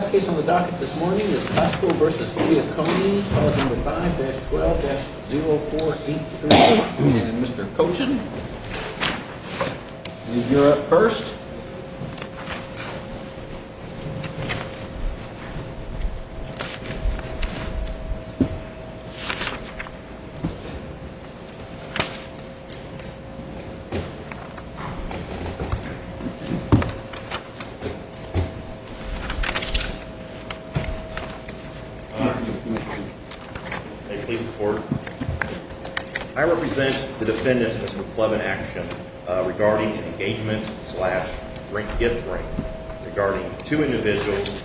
Last case on the docket this morning is Cosco v. Giacone, file number 5-12-0483, and Mr. Cochen, you're up first. May it please the court, I represent the defendants of this replevant action regarding an engagement slash drink-gift ring regarding two individuals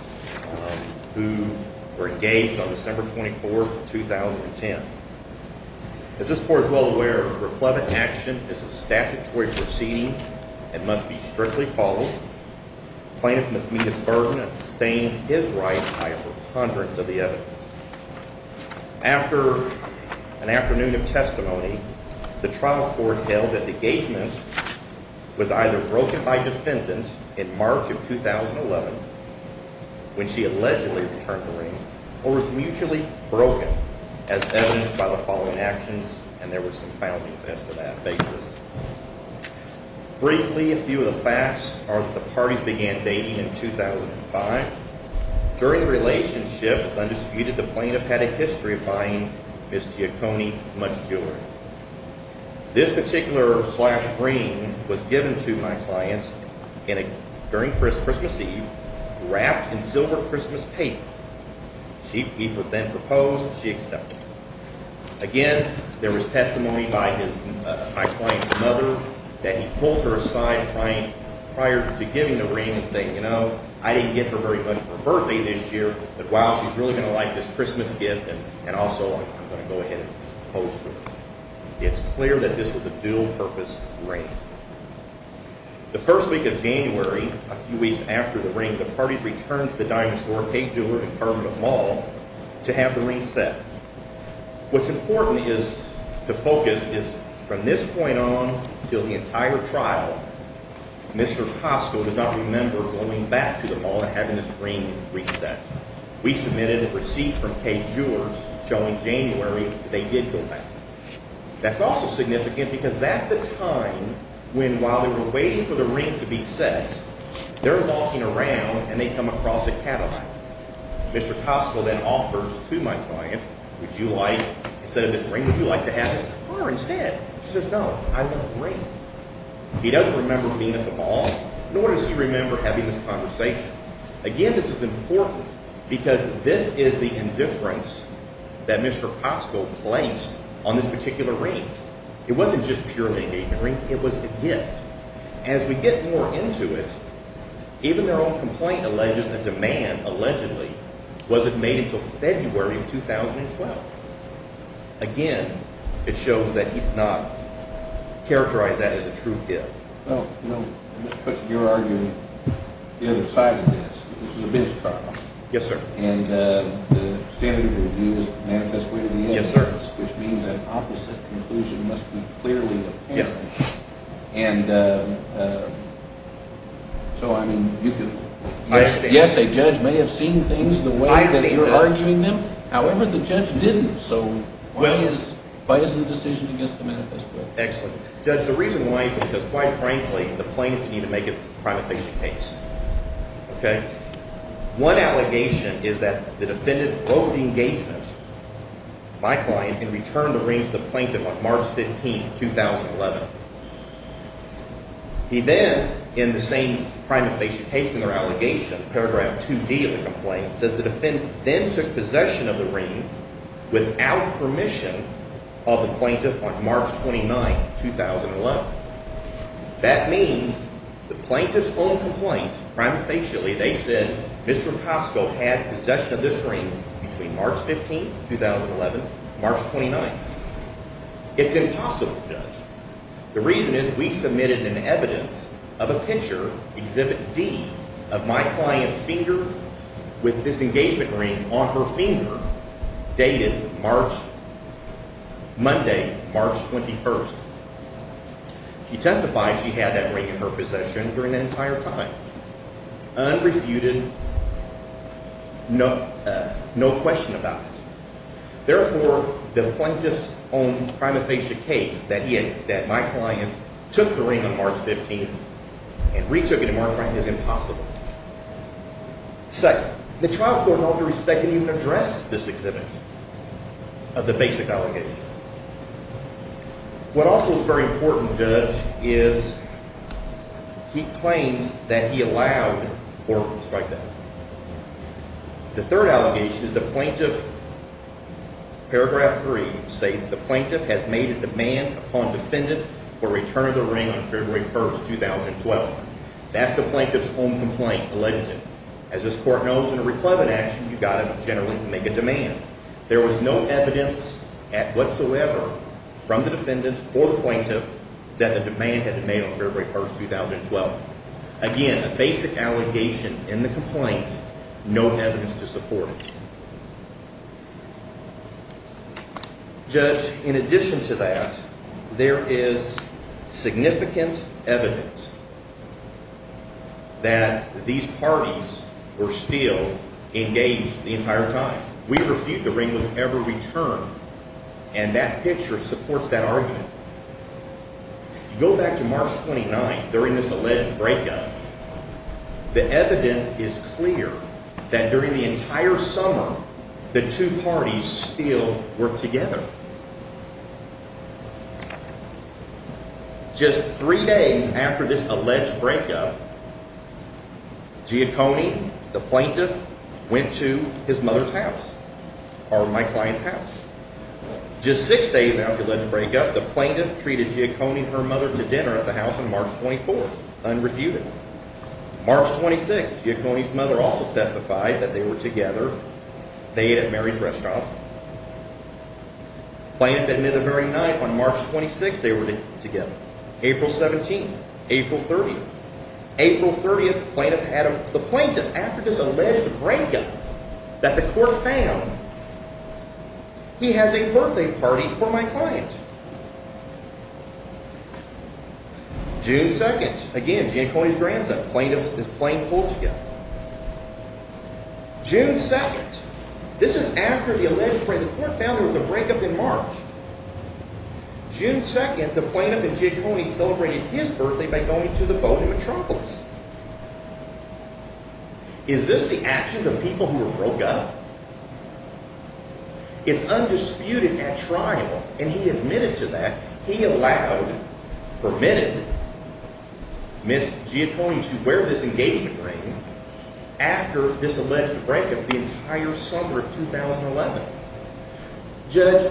who were engaged on December 24, 2010. As this court is well aware, a replevant action is a statutory proceeding and must be strictly followed. The plaintiff must meet his burden and sustain his right by a preponderance of the evidence. After an afternoon of testimony, the trial court held that the engagement was either broken by defendants in March of 2011, when she allegedly returned the ring, or was mutually broken as evidenced by the following actions, and there were some foundings after that basis. Briefly, a few of the facts are that the parties began dating in 2005. During the relationship, it is undisputed that the plaintiff had a history of buying Ms. Giacone much jewelry. This particular slash ring was given to my client during Christmas Eve, wrapped in silver Christmas paper. She then proposed, she accepted. Again, there was testimony by my client's mother that he pulled her aside prior to giving the ring and said, you know, I didn't get her very much for her birthday this year, but wow, she's really going to like this Christmas gift, and also I'm going to go ahead and propose to her. It's clear that this was a dual-purpose ring. The first week of January, a few weeks after the ring, the parties returned to the Dinosaur Paid Jewelers Department of Law to have the ring set. What's important to focus is, from this point on until the entire trial, Mr. Costco does not remember going back to the mall and having this ring reset. We submitted a receipt from Paid Jewelers showing January that they did go back. That's also significant because that's the time when, while they were waiting for the ring to be set, they're walking around and they come across a Cadillac. Mr. Costco then offers to my client, would you like, instead of this ring, would you like to have this car instead? She says, no, I love the ring. He doesn't remember being at the mall, nor does he remember having this conversation. Again, this is important because this is the indifference that Mr. Costco placed on this particular ring. It wasn't just purely an engagement ring. It was a gift. As we get more into it, even their own complaint alleges that demand, allegedly, wasn't made until February of 2012. Again, it shows that he did not characterize that as a true gift. Well, you know, Mr. Cushing, you're arguing the other side of this. This is a bench trial. Yes, sir. And the standard review is manifest way to the end. Yes, sir. Which means an opposite conclusion must be clearly obtained. Yes. And so, I mean, you can… Yes, a judge may have seen things the way that you're arguing them. However, the judge didn't. So why is the decision against the manifest way? Excellent. Judge, the reason why is because, quite frankly, the plaintiff needed to make its prima facie case. Okay? One allegation is that the defendant broke the engagement, my client, and returned the ring to the plaintiff on March 15, 2011. He then, in the same prima facie case in their allegation, paragraph 2D of the complaint, says the defendant then took possession of the ring without permission of the plaintiff on March 29, 2011. That means the plaintiff's own complaint, prima facie, they said Mr. Kosko had possession of this ring between March 15, 2011 and March 29. It's impossible, Judge. The reason is we submitted an evidence of a picture, Exhibit D, of my client's finger with this engagement ring on her finger dated March – Monday, March 21. She testified she had that ring in her possession during the entire time, unrefuted, no question about it. Therefore, the plaintiff's own prima facie case that my client took the ring on March 15 and retook it in March, right, is impossible. Second, the trial court in all due respect didn't even address this exhibit of the basic allegation. What also is very important, Judge, is he claims that he allowed or was like that. The third allegation is the plaintiff, paragraph 3, states the plaintiff has made a demand upon defendant for return of the ring on February 1, 2012. That's the plaintiff's own complaint, alleged. As this court knows, in a reclaimant action, you've got to generally make a demand. There was no evidence whatsoever from the defendant or the plaintiff that the demand had been made on February 1, 2012. Again, a basic allegation in the complaint, no evidence to support it. Judge, in addition to that, there is significant evidence that these parties were still engaged the entire time. We refute the ring was ever returned, and that picture supports that argument. Go back to March 29 during this alleged breakup. The evidence is clear that during the entire summer, the two parties still were together. Just three days after this alleged breakup, Giacone, the plaintiff, went to his mother's house or my client's house. Just six days after the alleged breakup, the plaintiff treated Giacone and her mother to dinner at the house on March 24, unrebutted. March 26, Giacone's mother also testified that they were together. They ate at Mary's Restaurant. Plaintiff admitted the very night, on March 26, they were together. April 17, April 30, April 30, the plaintiff, after this alleged breakup that the court found, he has a birthday party for my client. June 2, again, Giacone's grandson, plaintiff in Plain, Portugal. June 2, this is after the alleged breakup, the court found there was a breakup in March. June 2, the plaintiff and Giacone celebrated his birthday by going to the boat in Metropolis. Is this the actions of people who were broke up? It's undisputed at trial, and he admitted to that. He allowed, permitted, Ms. Giacone to wear this engagement ring after this alleged breakup the entire summer of 2011. Judge,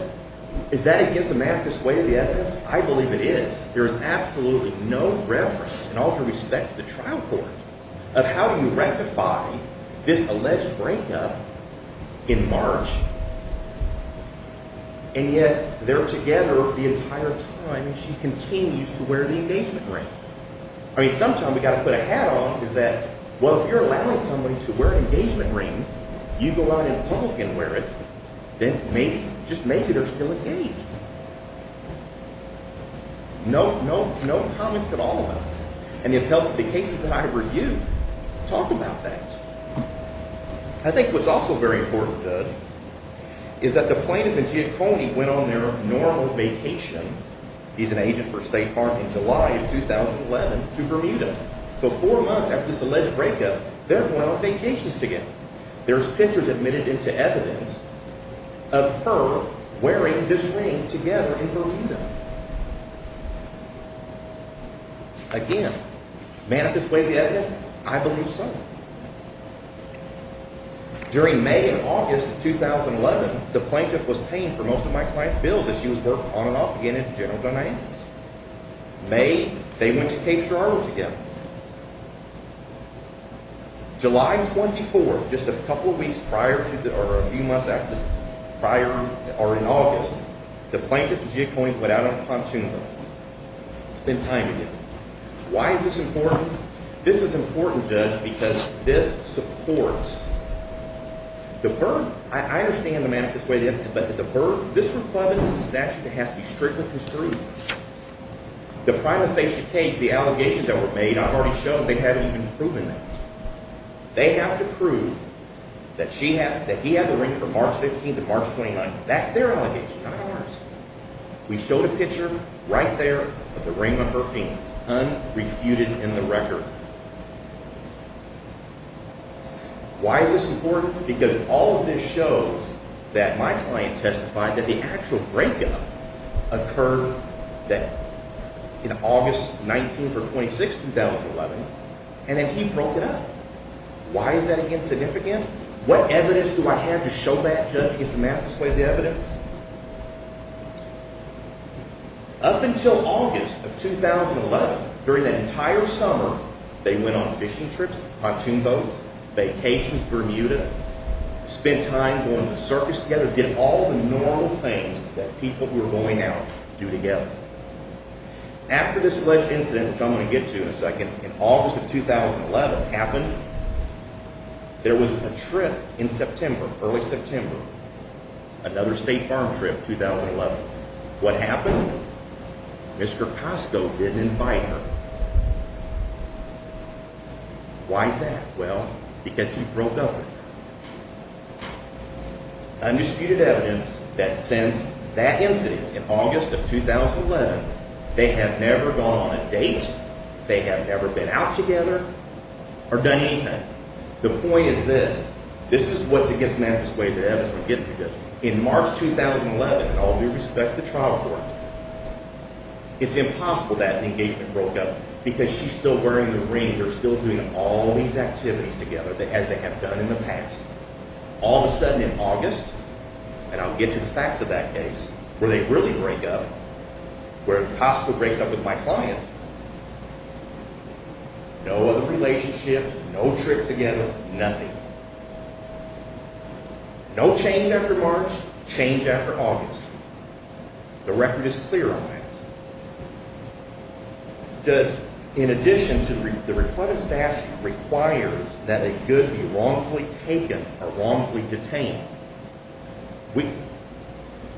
is that against the math, this way of the evidence? I believe it is. There is absolutely no reference, in all due respect to the trial court, of how you rectify this alleged breakup in March. And yet, they're together the entire time, and she continues to wear the engagement ring. I mean, sometimes we've got to put a hat on, is that, well, if you're allowing somebody to wear an engagement ring, you go out in public and wear it, then maybe, just maybe they're still engaged. No, no, no comments at all about that. And it helped the cases that I reviewed talk about that. I think what's also very important, Judge, is that the plaintiff and Giacone went on their normal vacation, he's an agent for State Farm, in July of 2011, to Bermuda. So four months after this alleged breakup, they're going on vacations together. There's pictures admitted into evidence of her wearing this ring together in Bermuda. Again, may I display the evidence? I believe so. During May and August of 2011, the plaintiff was paying for most of my client's bills as she was working on and off again at General Dynamics. May, they went to Cape Girardeau together. July 24th, just a couple of weeks prior to, or a few months after, prior, or in August, the plaintiff and Giacone went out on a pontoon boat. Spent time together. Why is this important? This is important, Judge, because this supports the Bermuda, I understand the manifesto, but the Bermuda, this is a statute that has to be strictly construed. The prima facie case, the allegations that were made, I've already shown they haven't even proven that. They have to prove that he had the ring from March 15th to March 29th. That's their allegation, not ours. We showed a picture right there of the ring on her finger, unrefuted in the record. Why is this important? Because all of this shows that my client testified that the actual breakup occurred in August 19th or 26th, 2011, and that he broke it up. Why is that insignificant? What evidence do I have to show that, Judge? Did Samantha display the evidence? Up until August of 2011, during that entire summer, they went on fishing trips, pontoon boats, vacations, Bermuda, spent time going to the circus together, did all the normal things that people who are going out do together. After this alleged incident, which I'm going to get to in a second, in August of 2011 happened, there was a trip in September, early September, another state farm trip, 2011. What happened? Mr. Costco didn't invite her. Why is that? Well, because he broke up with her. Undisputed evidence that since that incident in August of 2011, they have never gone on a date, they have never been out together, or done anything. The point is this. This is what's against Samantha's way to evidence. In March 2011, in all due respect to the trial court, it's impossible that the engagement broke up because she's still wearing the ring, they're still doing all these activities together as they have done in the past. All of a sudden in August, and I'll get to the facts of that case, where they really break up, where Costco breaks up with my client, no other relationship, no trips together, nothing. No change after March, change after August. The record is clear on that. In addition to, the recluse stash requires that a good be wrongfully taken or wrongfully detained.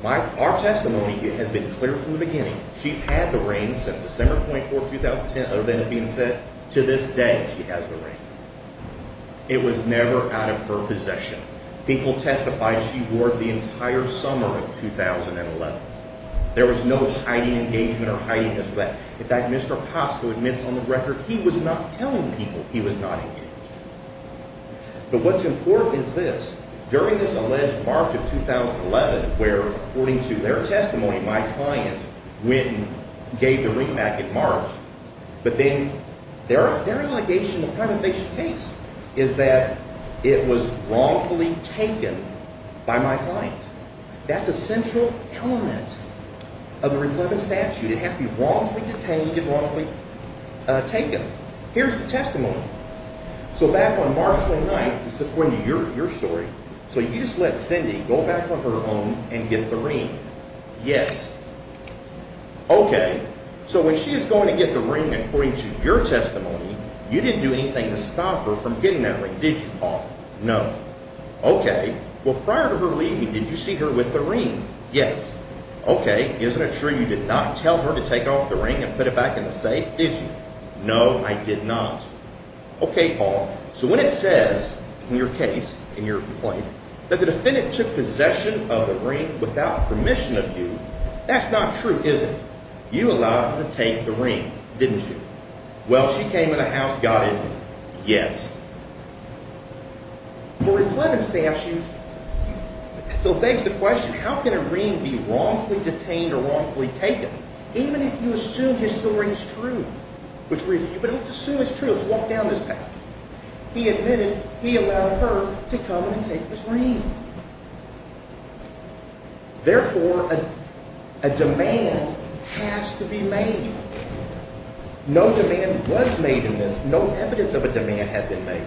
Our testimony has been clear from the beginning. She's had the ring since December 24, 2010, other than it being said, to this day, she has the ring. It was never out of her possession. People testified she wore it the entire summer of 2011. There was no hiding engagement or hiding this or that. In fact, Mr. Costco admits on the record he was not telling people he was not engaged. But what's important is this. During this alleged March of 2011, where according to their testimony, my client went and gave the ring back in March. But then their allegation in the privatization case is that it was wrongfully taken by my client. That's a central element of the recluse stash. It has to be wrongfully detained and wrongfully taken. Here's the testimony. So back on March 29th, this is according to your story, so you just let Cindy go back on her own and get the ring. Yes. Okay, so when she was going to get the ring according to your testimony, you didn't do anything to stop her from getting that ring, did you, Paul? No. Okay, well prior to her leaving, did you see her with the ring? Yes. Okay, isn't it true you did not tell her to take off the ring and put it back in the safe, did you? No, I did not. Okay, Paul. So when it says in your case, in your complaint, that the defendant took possession of the ring without permission of you, that's not true, is it? You allowed her to take the ring, didn't you? Well, she came in the house, got in there. Yes. Now, the replevant statute still begs the question, how can a ring be wrongfully detained or wrongfully taken? Even if you assume his story is true, but let's assume it's true, let's walk down this path. He admitted he allowed her to come and take his ring. Therefore, a demand has to be made. No demand was made in this. No evidence of a demand has been made.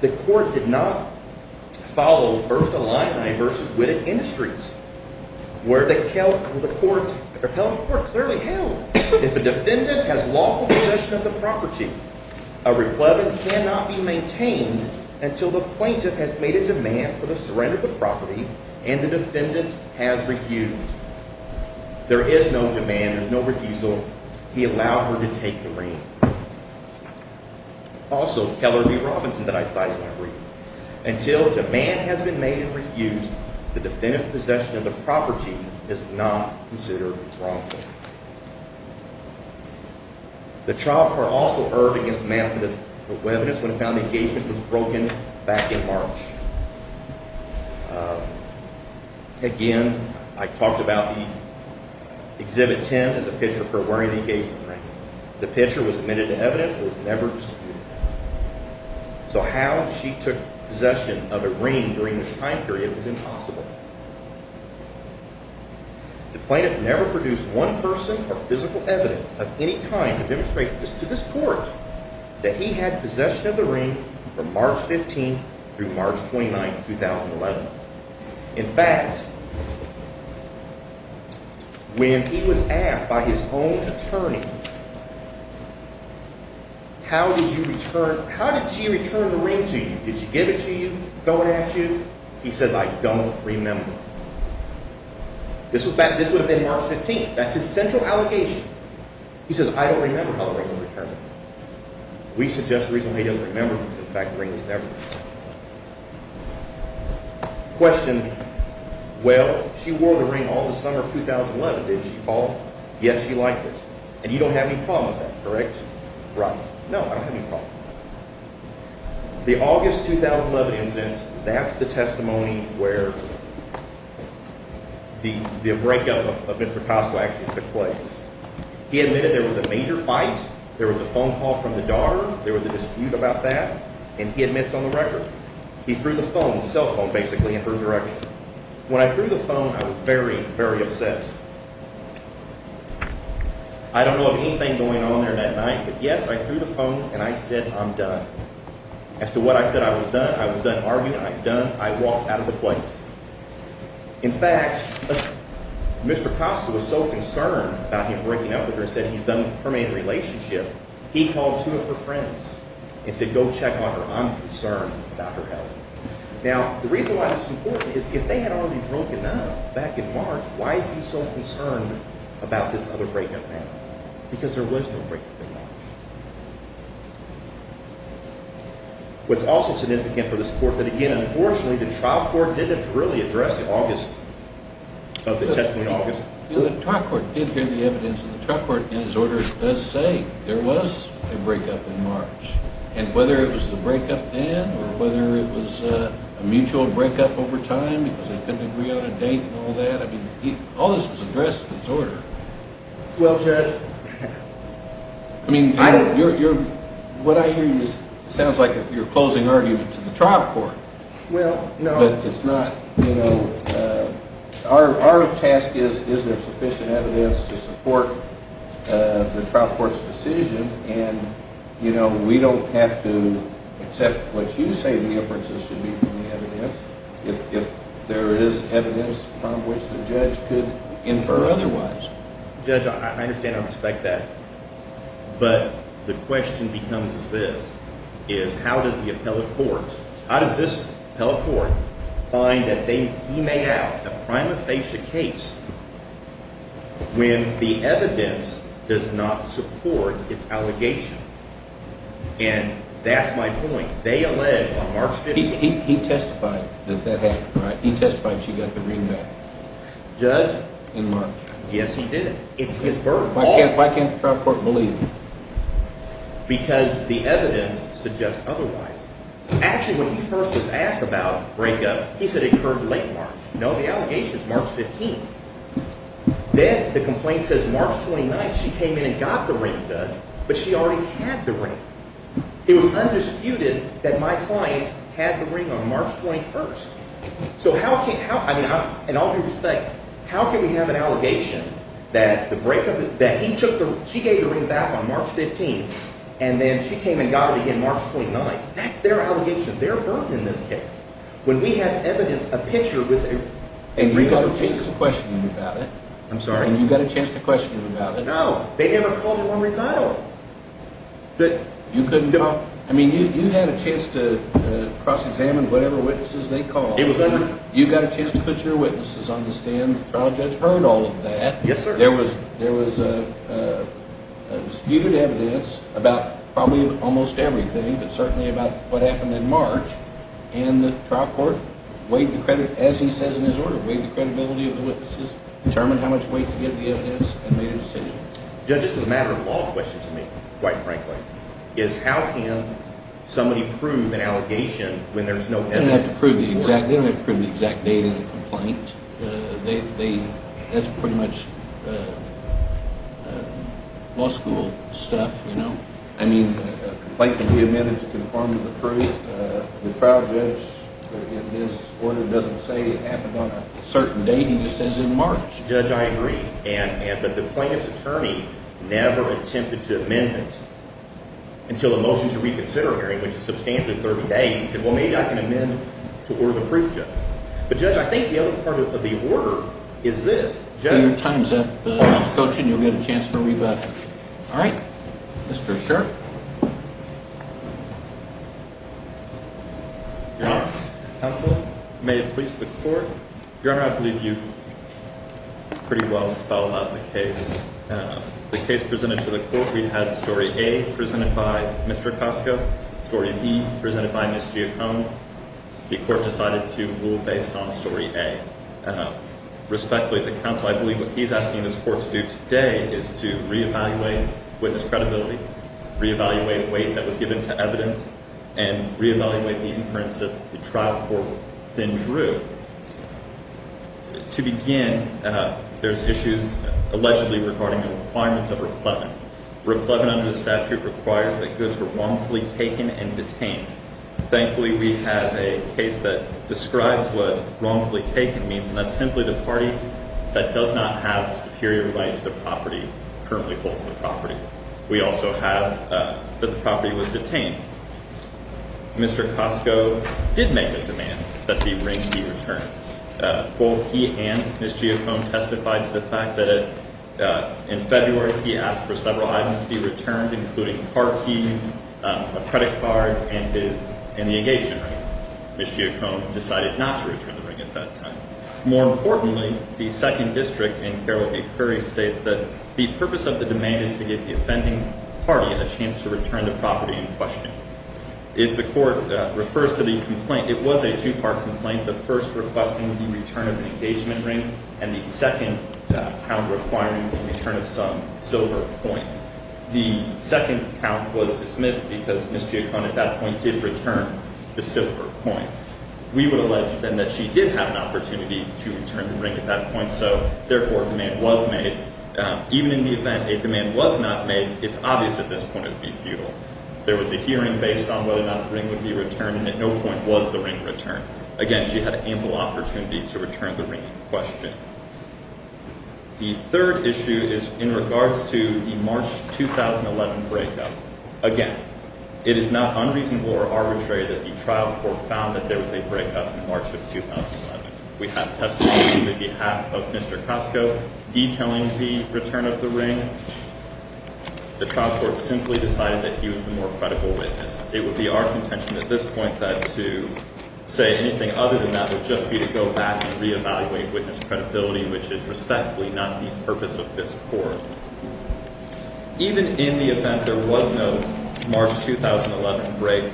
The court did not follow First Illini v. Whitted Industries, where the court clearly held if a defendant has lawful possession of the property, a replevant cannot be maintained until the plaintiff has made a demand for the surrender of the property and the defendant has refused. There is no demand, there's no refusal. He allowed her to take the ring. Also, Keller v. Robinson, that I cited in my brief, until a demand has been made and refused, the defendant's possession of the property is not considered wrongful. The trial court also erred against the man for the evidence when it found the engagement was broken back in March. Again, I talked about the Exhibit 10 and the picture for wearing the engagement ring. The picture was admitted to evidence and was never disputed. So how she took possession of a ring during this time period was impossible. The plaintiff never produced one person or physical evidence of any kind to demonstrate to this court that he had possession of the ring from March 15 through March 29, 2011. In fact, when he was asked by his own attorney, how did she return the ring to you? Did she give it to you, throw it at you? He said, I don't remember. This would have been March 15. That's his central allegation. He says, I don't remember how the ring was returned. We suggest the reason he doesn't remember is because the ring was never returned. The plaintiff questioned, well, she wore the ring all the summer of 2011, didn't she, Paul? Yes, she liked it. And you don't have any problem with that, correct? Right. No, I don't have any problem with that. The August 2011 incident, that's the testimony where the breakup of Mr. Costow actually took place. He admitted there was a major fight. There was a phone call from the daughter. There was a dispute about that. And he admits on the record, he threw the phone, the cell phone basically, in her direction. When I threw the phone, I was very, very upset. I don't know of anything going on there that night. But yes, I threw the phone and I said, I'm done. As to what I said, I was done. I was done arguing. I'm done. I walked out of the place. In fact, Mr. Costow was so concerned about him breaking up with her, he said he's done a permanent relationship, he called two of her friends and said, go check on her. I'm concerned about her health. Now, the reason why this is important is if they had already broken up back in March, why is he so concerned about this other breakup now? Because there was no breakup in March. What's also significant for this court, that again, unfortunately, the trial court didn't really address the August, the testimony in August. The trial court did hear the evidence, and the trial court in its order does say there was a breakup in March. And whether it was the breakup then or whether it was a mutual breakup over time because they couldn't agree on a date and all that, I mean, all this was addressed in its order. Well, Judge. I mean, what I hear sounds like you're closing argument to the trial court. Well, no. But it's not. Our task is, is there sufficient evidence to support the trial court's decision? And, you know, we don't have to accept what you say the inferences should be from the evidence if there is evidence from which the judge could infer otherwise. Judge, I understand and respect that. But the question becomes this, is how does the appellate court, how does this appellate court find that he made out a prima facie case when the evidence does not support its allegation? And that's my point. They allege on March 15th. He testified that that happened, right? He testified she got the ring back. Judge? In March. Yes, he did. It's his burden. Why can't the trial court believe? Because the evidence suggests otherwise. Actually, when he first was asked about breakup, he said it occurred late March. No, the allegation is March 15th. Then the complaint says March 29th she came in and got the ring, Judge, but she already had the ring. It was undisputed that my client had the ring on March 21st. So how can we have an allegation that he took the ring, she gave the ring back on March 15th, and then she came and got it again March 29th? That's their allegation, their burden in this case. When we have evidence, a picture with a ring on it. And you got a chance to question him about it. I'm sorry? And you got a chance to question him about it. No, they never called him on Ricardo. You had a chance to cross-examine whatever witnesses they called. You got a chance to put your witnesses on the stand. The trial judge heard all of that. Yes, sir. There was disputed evidence about probably almost everything, but certainly about what happened in March, and the trial court weighed the credit, as he says in his order, weighed the credibility of the witnesses, determined how much weight to give the evidence, and made a decision. Judge, this is a matter of law question to me, quite frankly, is how can somebody prove an allegation when there's no evidence? They don't have to prove the exact date in the complaint. That's pretty much law school stuff, you know? I mean, the complaint can be amended to conform to the proof. The trial judge in his order doesn't say it happened on a certain date. He just says in March. Judge, I agree. But the plaintiff's attorney never attempted to amend it until the motion to reconsider hearing, which is substantially 30 days. He said, well, maybe I can amend to order the proof, Judge. But, Judge, I think the other part of the order is this. Your time's up, Mr. Cochran. You'll get a chance to rebut. All right. Mr. Sherk. Your Honor, counsel, may it please the court. Your Honor, I believe you pretty well spelled out the case. The case presented to the court, we had story A presented by Mr. Acosta, story B presented by Ms. Giacome. The court decided to rule based on story A. Respectfully, the counsel, I believe what he's asking this court to do today is to reevaluate witness credibility, reevaluate weight that was given to evidence, and reevaluate the inference that the trial court then drew. To begin, there's issues allegedly regarding the requirements of reclaiming. Reclaiming under the statute requires that goods were wrongfully taken and detained. Thankfully, we have a case that describes what wrongfully taken means, and that's simply the party that does not have a superior right to the property, currently holds the property. We also have that the property was detained. Mr. Acosta did make a demand that the ring be returned. Both he and Ms. Giacome testified to the fact that in February he asked for several items to be returned, including car keys, a credit card, and the engagement ring. Ms. Giacome decided not to return the ring at that time. More importantly, the second district in Carroll v. Curry states that the purpose of the demand is to give the offending party a chance to return the property in question. If the court refers to the complaint, it was a two-part complaint, the first requesting the return of an engagement ring and the second kind of requiring the return of some silver coins. The second count was dismissed because Ms. Giacome at that point did return the silver coins. We would allege then that she did have an opportunity to return the ring at that point, so therefore a demand was made. Even in the event a demand was not made, it's obvious at this point it would be futile. There was a hearing based on whether or not the ring would be returned, and at no point was the ring returned. Again, she had ample opportunity to return the ring in question. The third issue is in regards to the March 2011 breakup. Again, it is not unreasonable or arbitrary that the trial court found that there was a breakup in March of 2011. We have testimony on behalf of Mr. Cosco detailing the return of the ring. The trial court simply decided that he was the more credible witness. It would be our contention at this point that to say anything other than that would re-evaluate witness credibility, which is respectfully not the purpose of this court. Even in the event there was no March 2011 break,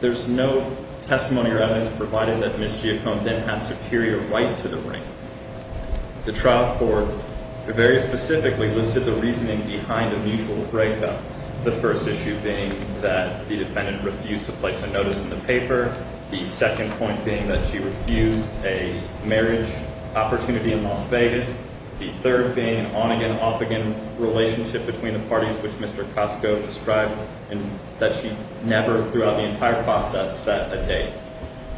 there's no testimony or evidence provided that Ms. Giacome then has superior right to the ring. The trial court very specifically listed the reasoning behind a mutual breakup, the first issue being that the defendant refused to place a notice in the paper, the second point being that she refused a marriage opportunity in Las Vegas, the third being an on-again, off-again relationship between the parties, which Mr. Cosco described, and that she never throughout the entire process set a date.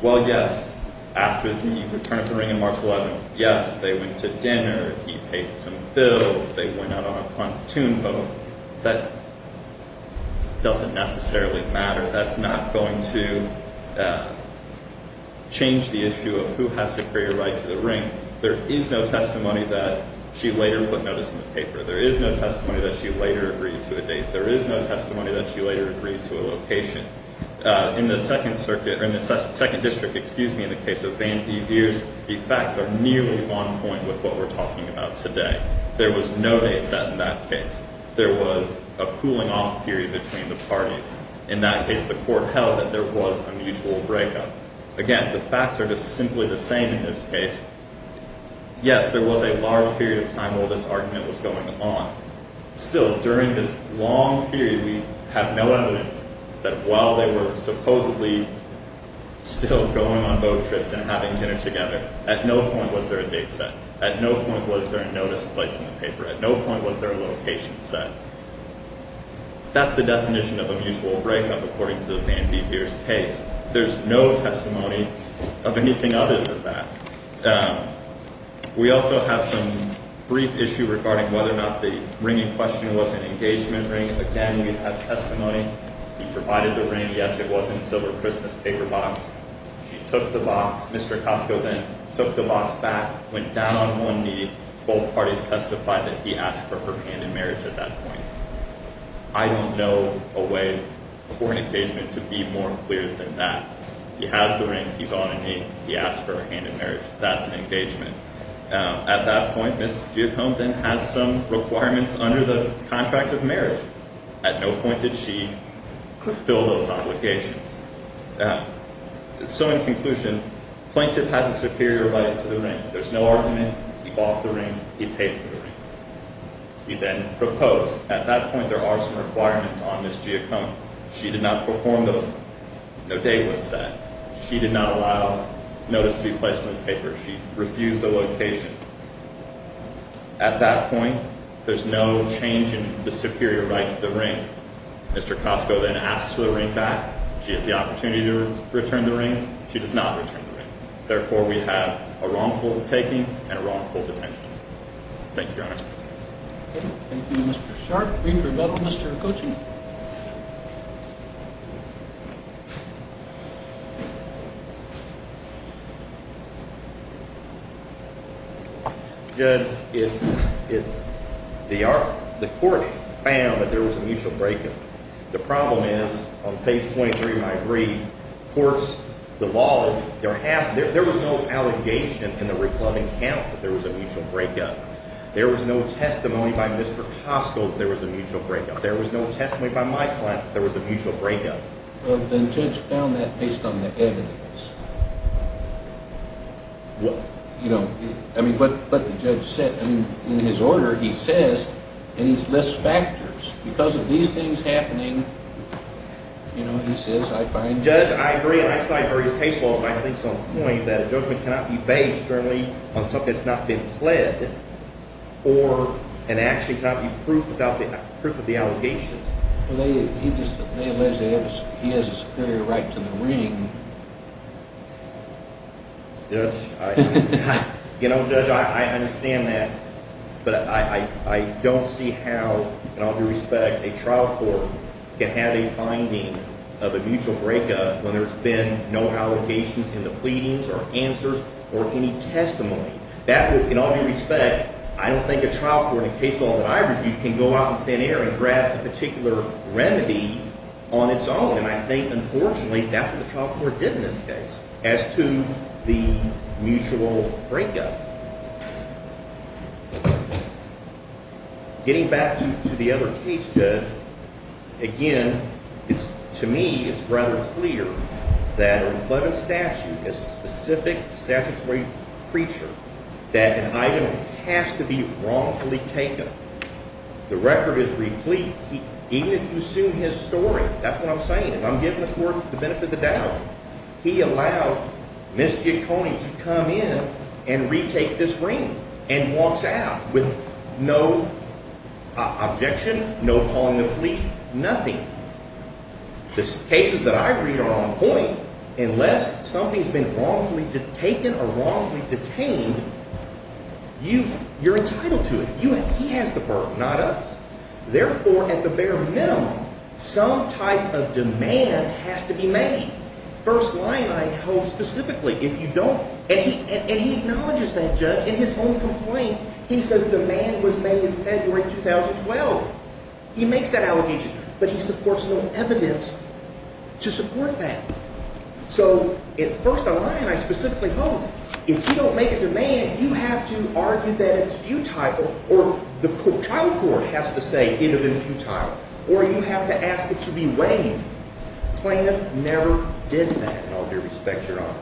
Well, yes, after the return of the ring in March 2011, yes, they went to dinner, he paid some bills, they went out on a pontoon boat. That doesn't necessarily matter. That's not going to change the issue of who has superior right to the ring. There is no testimony that she later put notice in the paper. There is no testimony that she later agreed to a date. There is no testimony that she later agreed to a location. In the Second Circuit, or in the Second District, excuse me, in the case of Van B. Beers, the facts are nearly on point with what we're talking about today. There was no date set in that case. There was a cooling-off period between the parties. In that case, the court held that there was a mutual breakup. Again, the facts are just simply the same in this case. Yes, there was a large period of time while this argument was going on. Still, during this long period, we have no evidence that while they were supposedly still going on boat trips and having dinner together, at no point was there a date set. At no point was there a notice placed in the paper. At no point was there a location set. That's the definition of a mutual breakup according to Van B. Beers' case. There's no testimony of anything other than that. We also have some brief issue regarding whether or not the ringing question was an engagement ring. Again, we have testimony. He provided the ring. Yes, it was in a silver Christmas paper box. She took the box. Mr. Acasco then took the box back, went down on one knee. Both parties testified that he asked for her hand in marriage at that point. I don't know a way for an engagement to be more clear than that. He has the ring. He's on a knee. He asked for her hand in marriage. That's an engagement. At that point, Ms. Geocombe then has some requirements under the contract of marriage. At no point did she fulfill those obligations. So, in conclusion, plaintiff has a superior right to the ring. There's no argument. He bought the ring. He paid for the ring. He then proposed. At that point, there are some requirements on Ms. Geocombe. She did not perform those. No date was set. She did not allow notice to be placed in the paper. She refused a location. At that point, there's no change in the superior right to the ring. Mr. Acasco then asks for the ring back. She has the opportunity to return the ring. She does not return the ring. Therefore, we have a wrongful taking and a wrongful detention. Thank you, Your Honor. Okay. Thank you, Mr. Sharp. Brief rebuttal, Mr. Coaching. Judge, the court found that there was a mutual break-in. The problem is, on page 23 of my brief, courts, the law, there was no allegation in the reclubbing count that there was a mutual break-in. There was no testimony by Mr. Acasco that there was a mutual break-in. There was no testimony by my client that there was a mutual break-in. Well, then Judge found that based on the evidence. What? You know, I mean, but the Judge said, I mean, in his order, he says, and he lists factors. Because of these things happening, you know, he says, I find Judge, I agree, and I cite various case laws, but I think it's on point, that a judgment cannot be based generally on something that's not been pledged or an action cannot be proved without the proof of the allegations. Well, he just, unless he has a superior right to the ring. Judge, I, you know, Judge, I understand that. But I don't see how, in all due respect, a trial court can have a finding of a mutual break-up when there's been no allegations in the pleadings or answers or any testimony. That would, in all due respect, I don't think a trial court, in a case law that I review, can go out in thin air and grab a particular remedy on its own. And I think, unfortunately, that's what the trial court did in this case as to the mutual break-up. Getting back to the other case, Judge, again, it's, to me, it's rather clear that a repledent statute is a specific statutory creature, that an item has to be wrongfully taken. The record is replete. Even if you assume his story, that's what I'm saying, is I'm giving the court the benefit of the doubt. He allowed Ms. Giacconi to come in and retake this ring and walks out with no objection, no calling the police, nothing. The cases that I read are on point. Unless something's been wrongfully taken or wrongfully detained, you're entitled to it. He has the berth, not us. Therefore, at the bare minimum, some type of demand has to be made. First line, I hold specifically, if you don't. And he acknowledges that, Judge, in his own complaint. He says demand was made in February 2012. He makes that allegation, but he supports no evidence to support that. So, at first line, I specifically hold, if you don't make a demand, you have to argue that it's futile or the child court has to say it has been futile, or you have to ask it to be waived. Plaintiff never did that, in all due respect, Your Honor.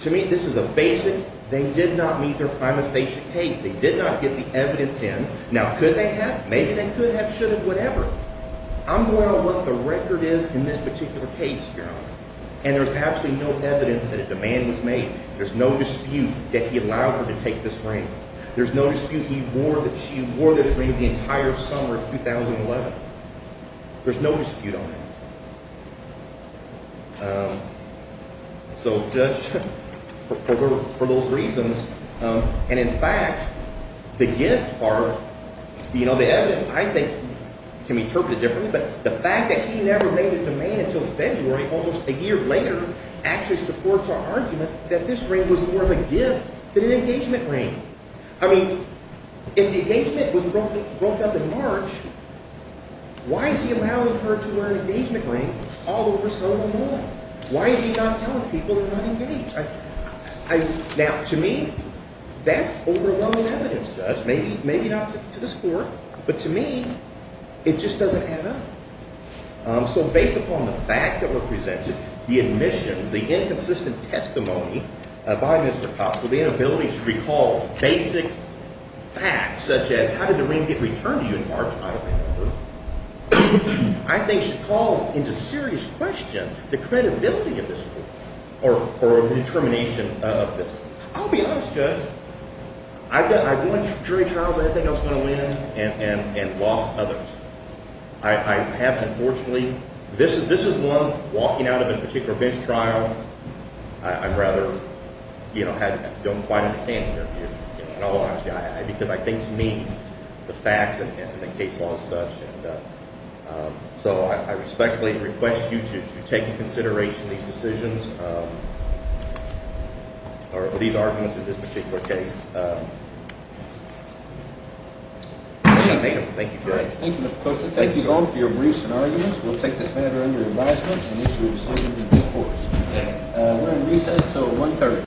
To me, this is a basic, they did not meet their prime of station case. They did not get the evidence in. Now, could they have? Maybe they could have, should have, whatever. I'm going on what the record is in this particular case, Your Honor. And there's absolutely no evidence that a demand was made. There's no dispute that he allowed her to take this ring. There's no dispute he wore, that she wore this ring the entire summer of 2011. There's no dispute on that. So, Judge, for those reasons, and in fact, the gift part, you know, the evidence, I think, can be interpreted differently, but the fact that he never made a demand until February, almost a year later, actually supports our argument that this ring was more of a gift than an engagement ring. I mean, if the engagement was broke up in March, why is he allowing her to wear an engagement ring all over Selma Mall? Why is he not telling people they're not engaged? Now, to me, that's overwhelming evidence, Judge. Maybe not to this court, but to me, it just doesn't add up. So based upon the facts that were presented, the admissions, the inconsistent testimony by Mr. Cox, with the inability to recall basic facts such as how did the ring get returned to you in March, I think calls into serious question the credibility of this court or the determination of this. I'll be honest, Judge, I've won jury trials I didn't think I was going to win and lost others. I have unfortunately, this is one walking out of a particular bench trial, I'd rather, you know, I don't quite understand your view because I think to me the facts and the case law is such. And so I respectfully request you to take into consideration these decisions or these arguments in this particular case. Thank you, Judge. Thank you, Mr. Coachman. Thank you all for your briefs and arguments. We'll take this matter under advisement and issue a decision in due course. We're on recess until 1.30.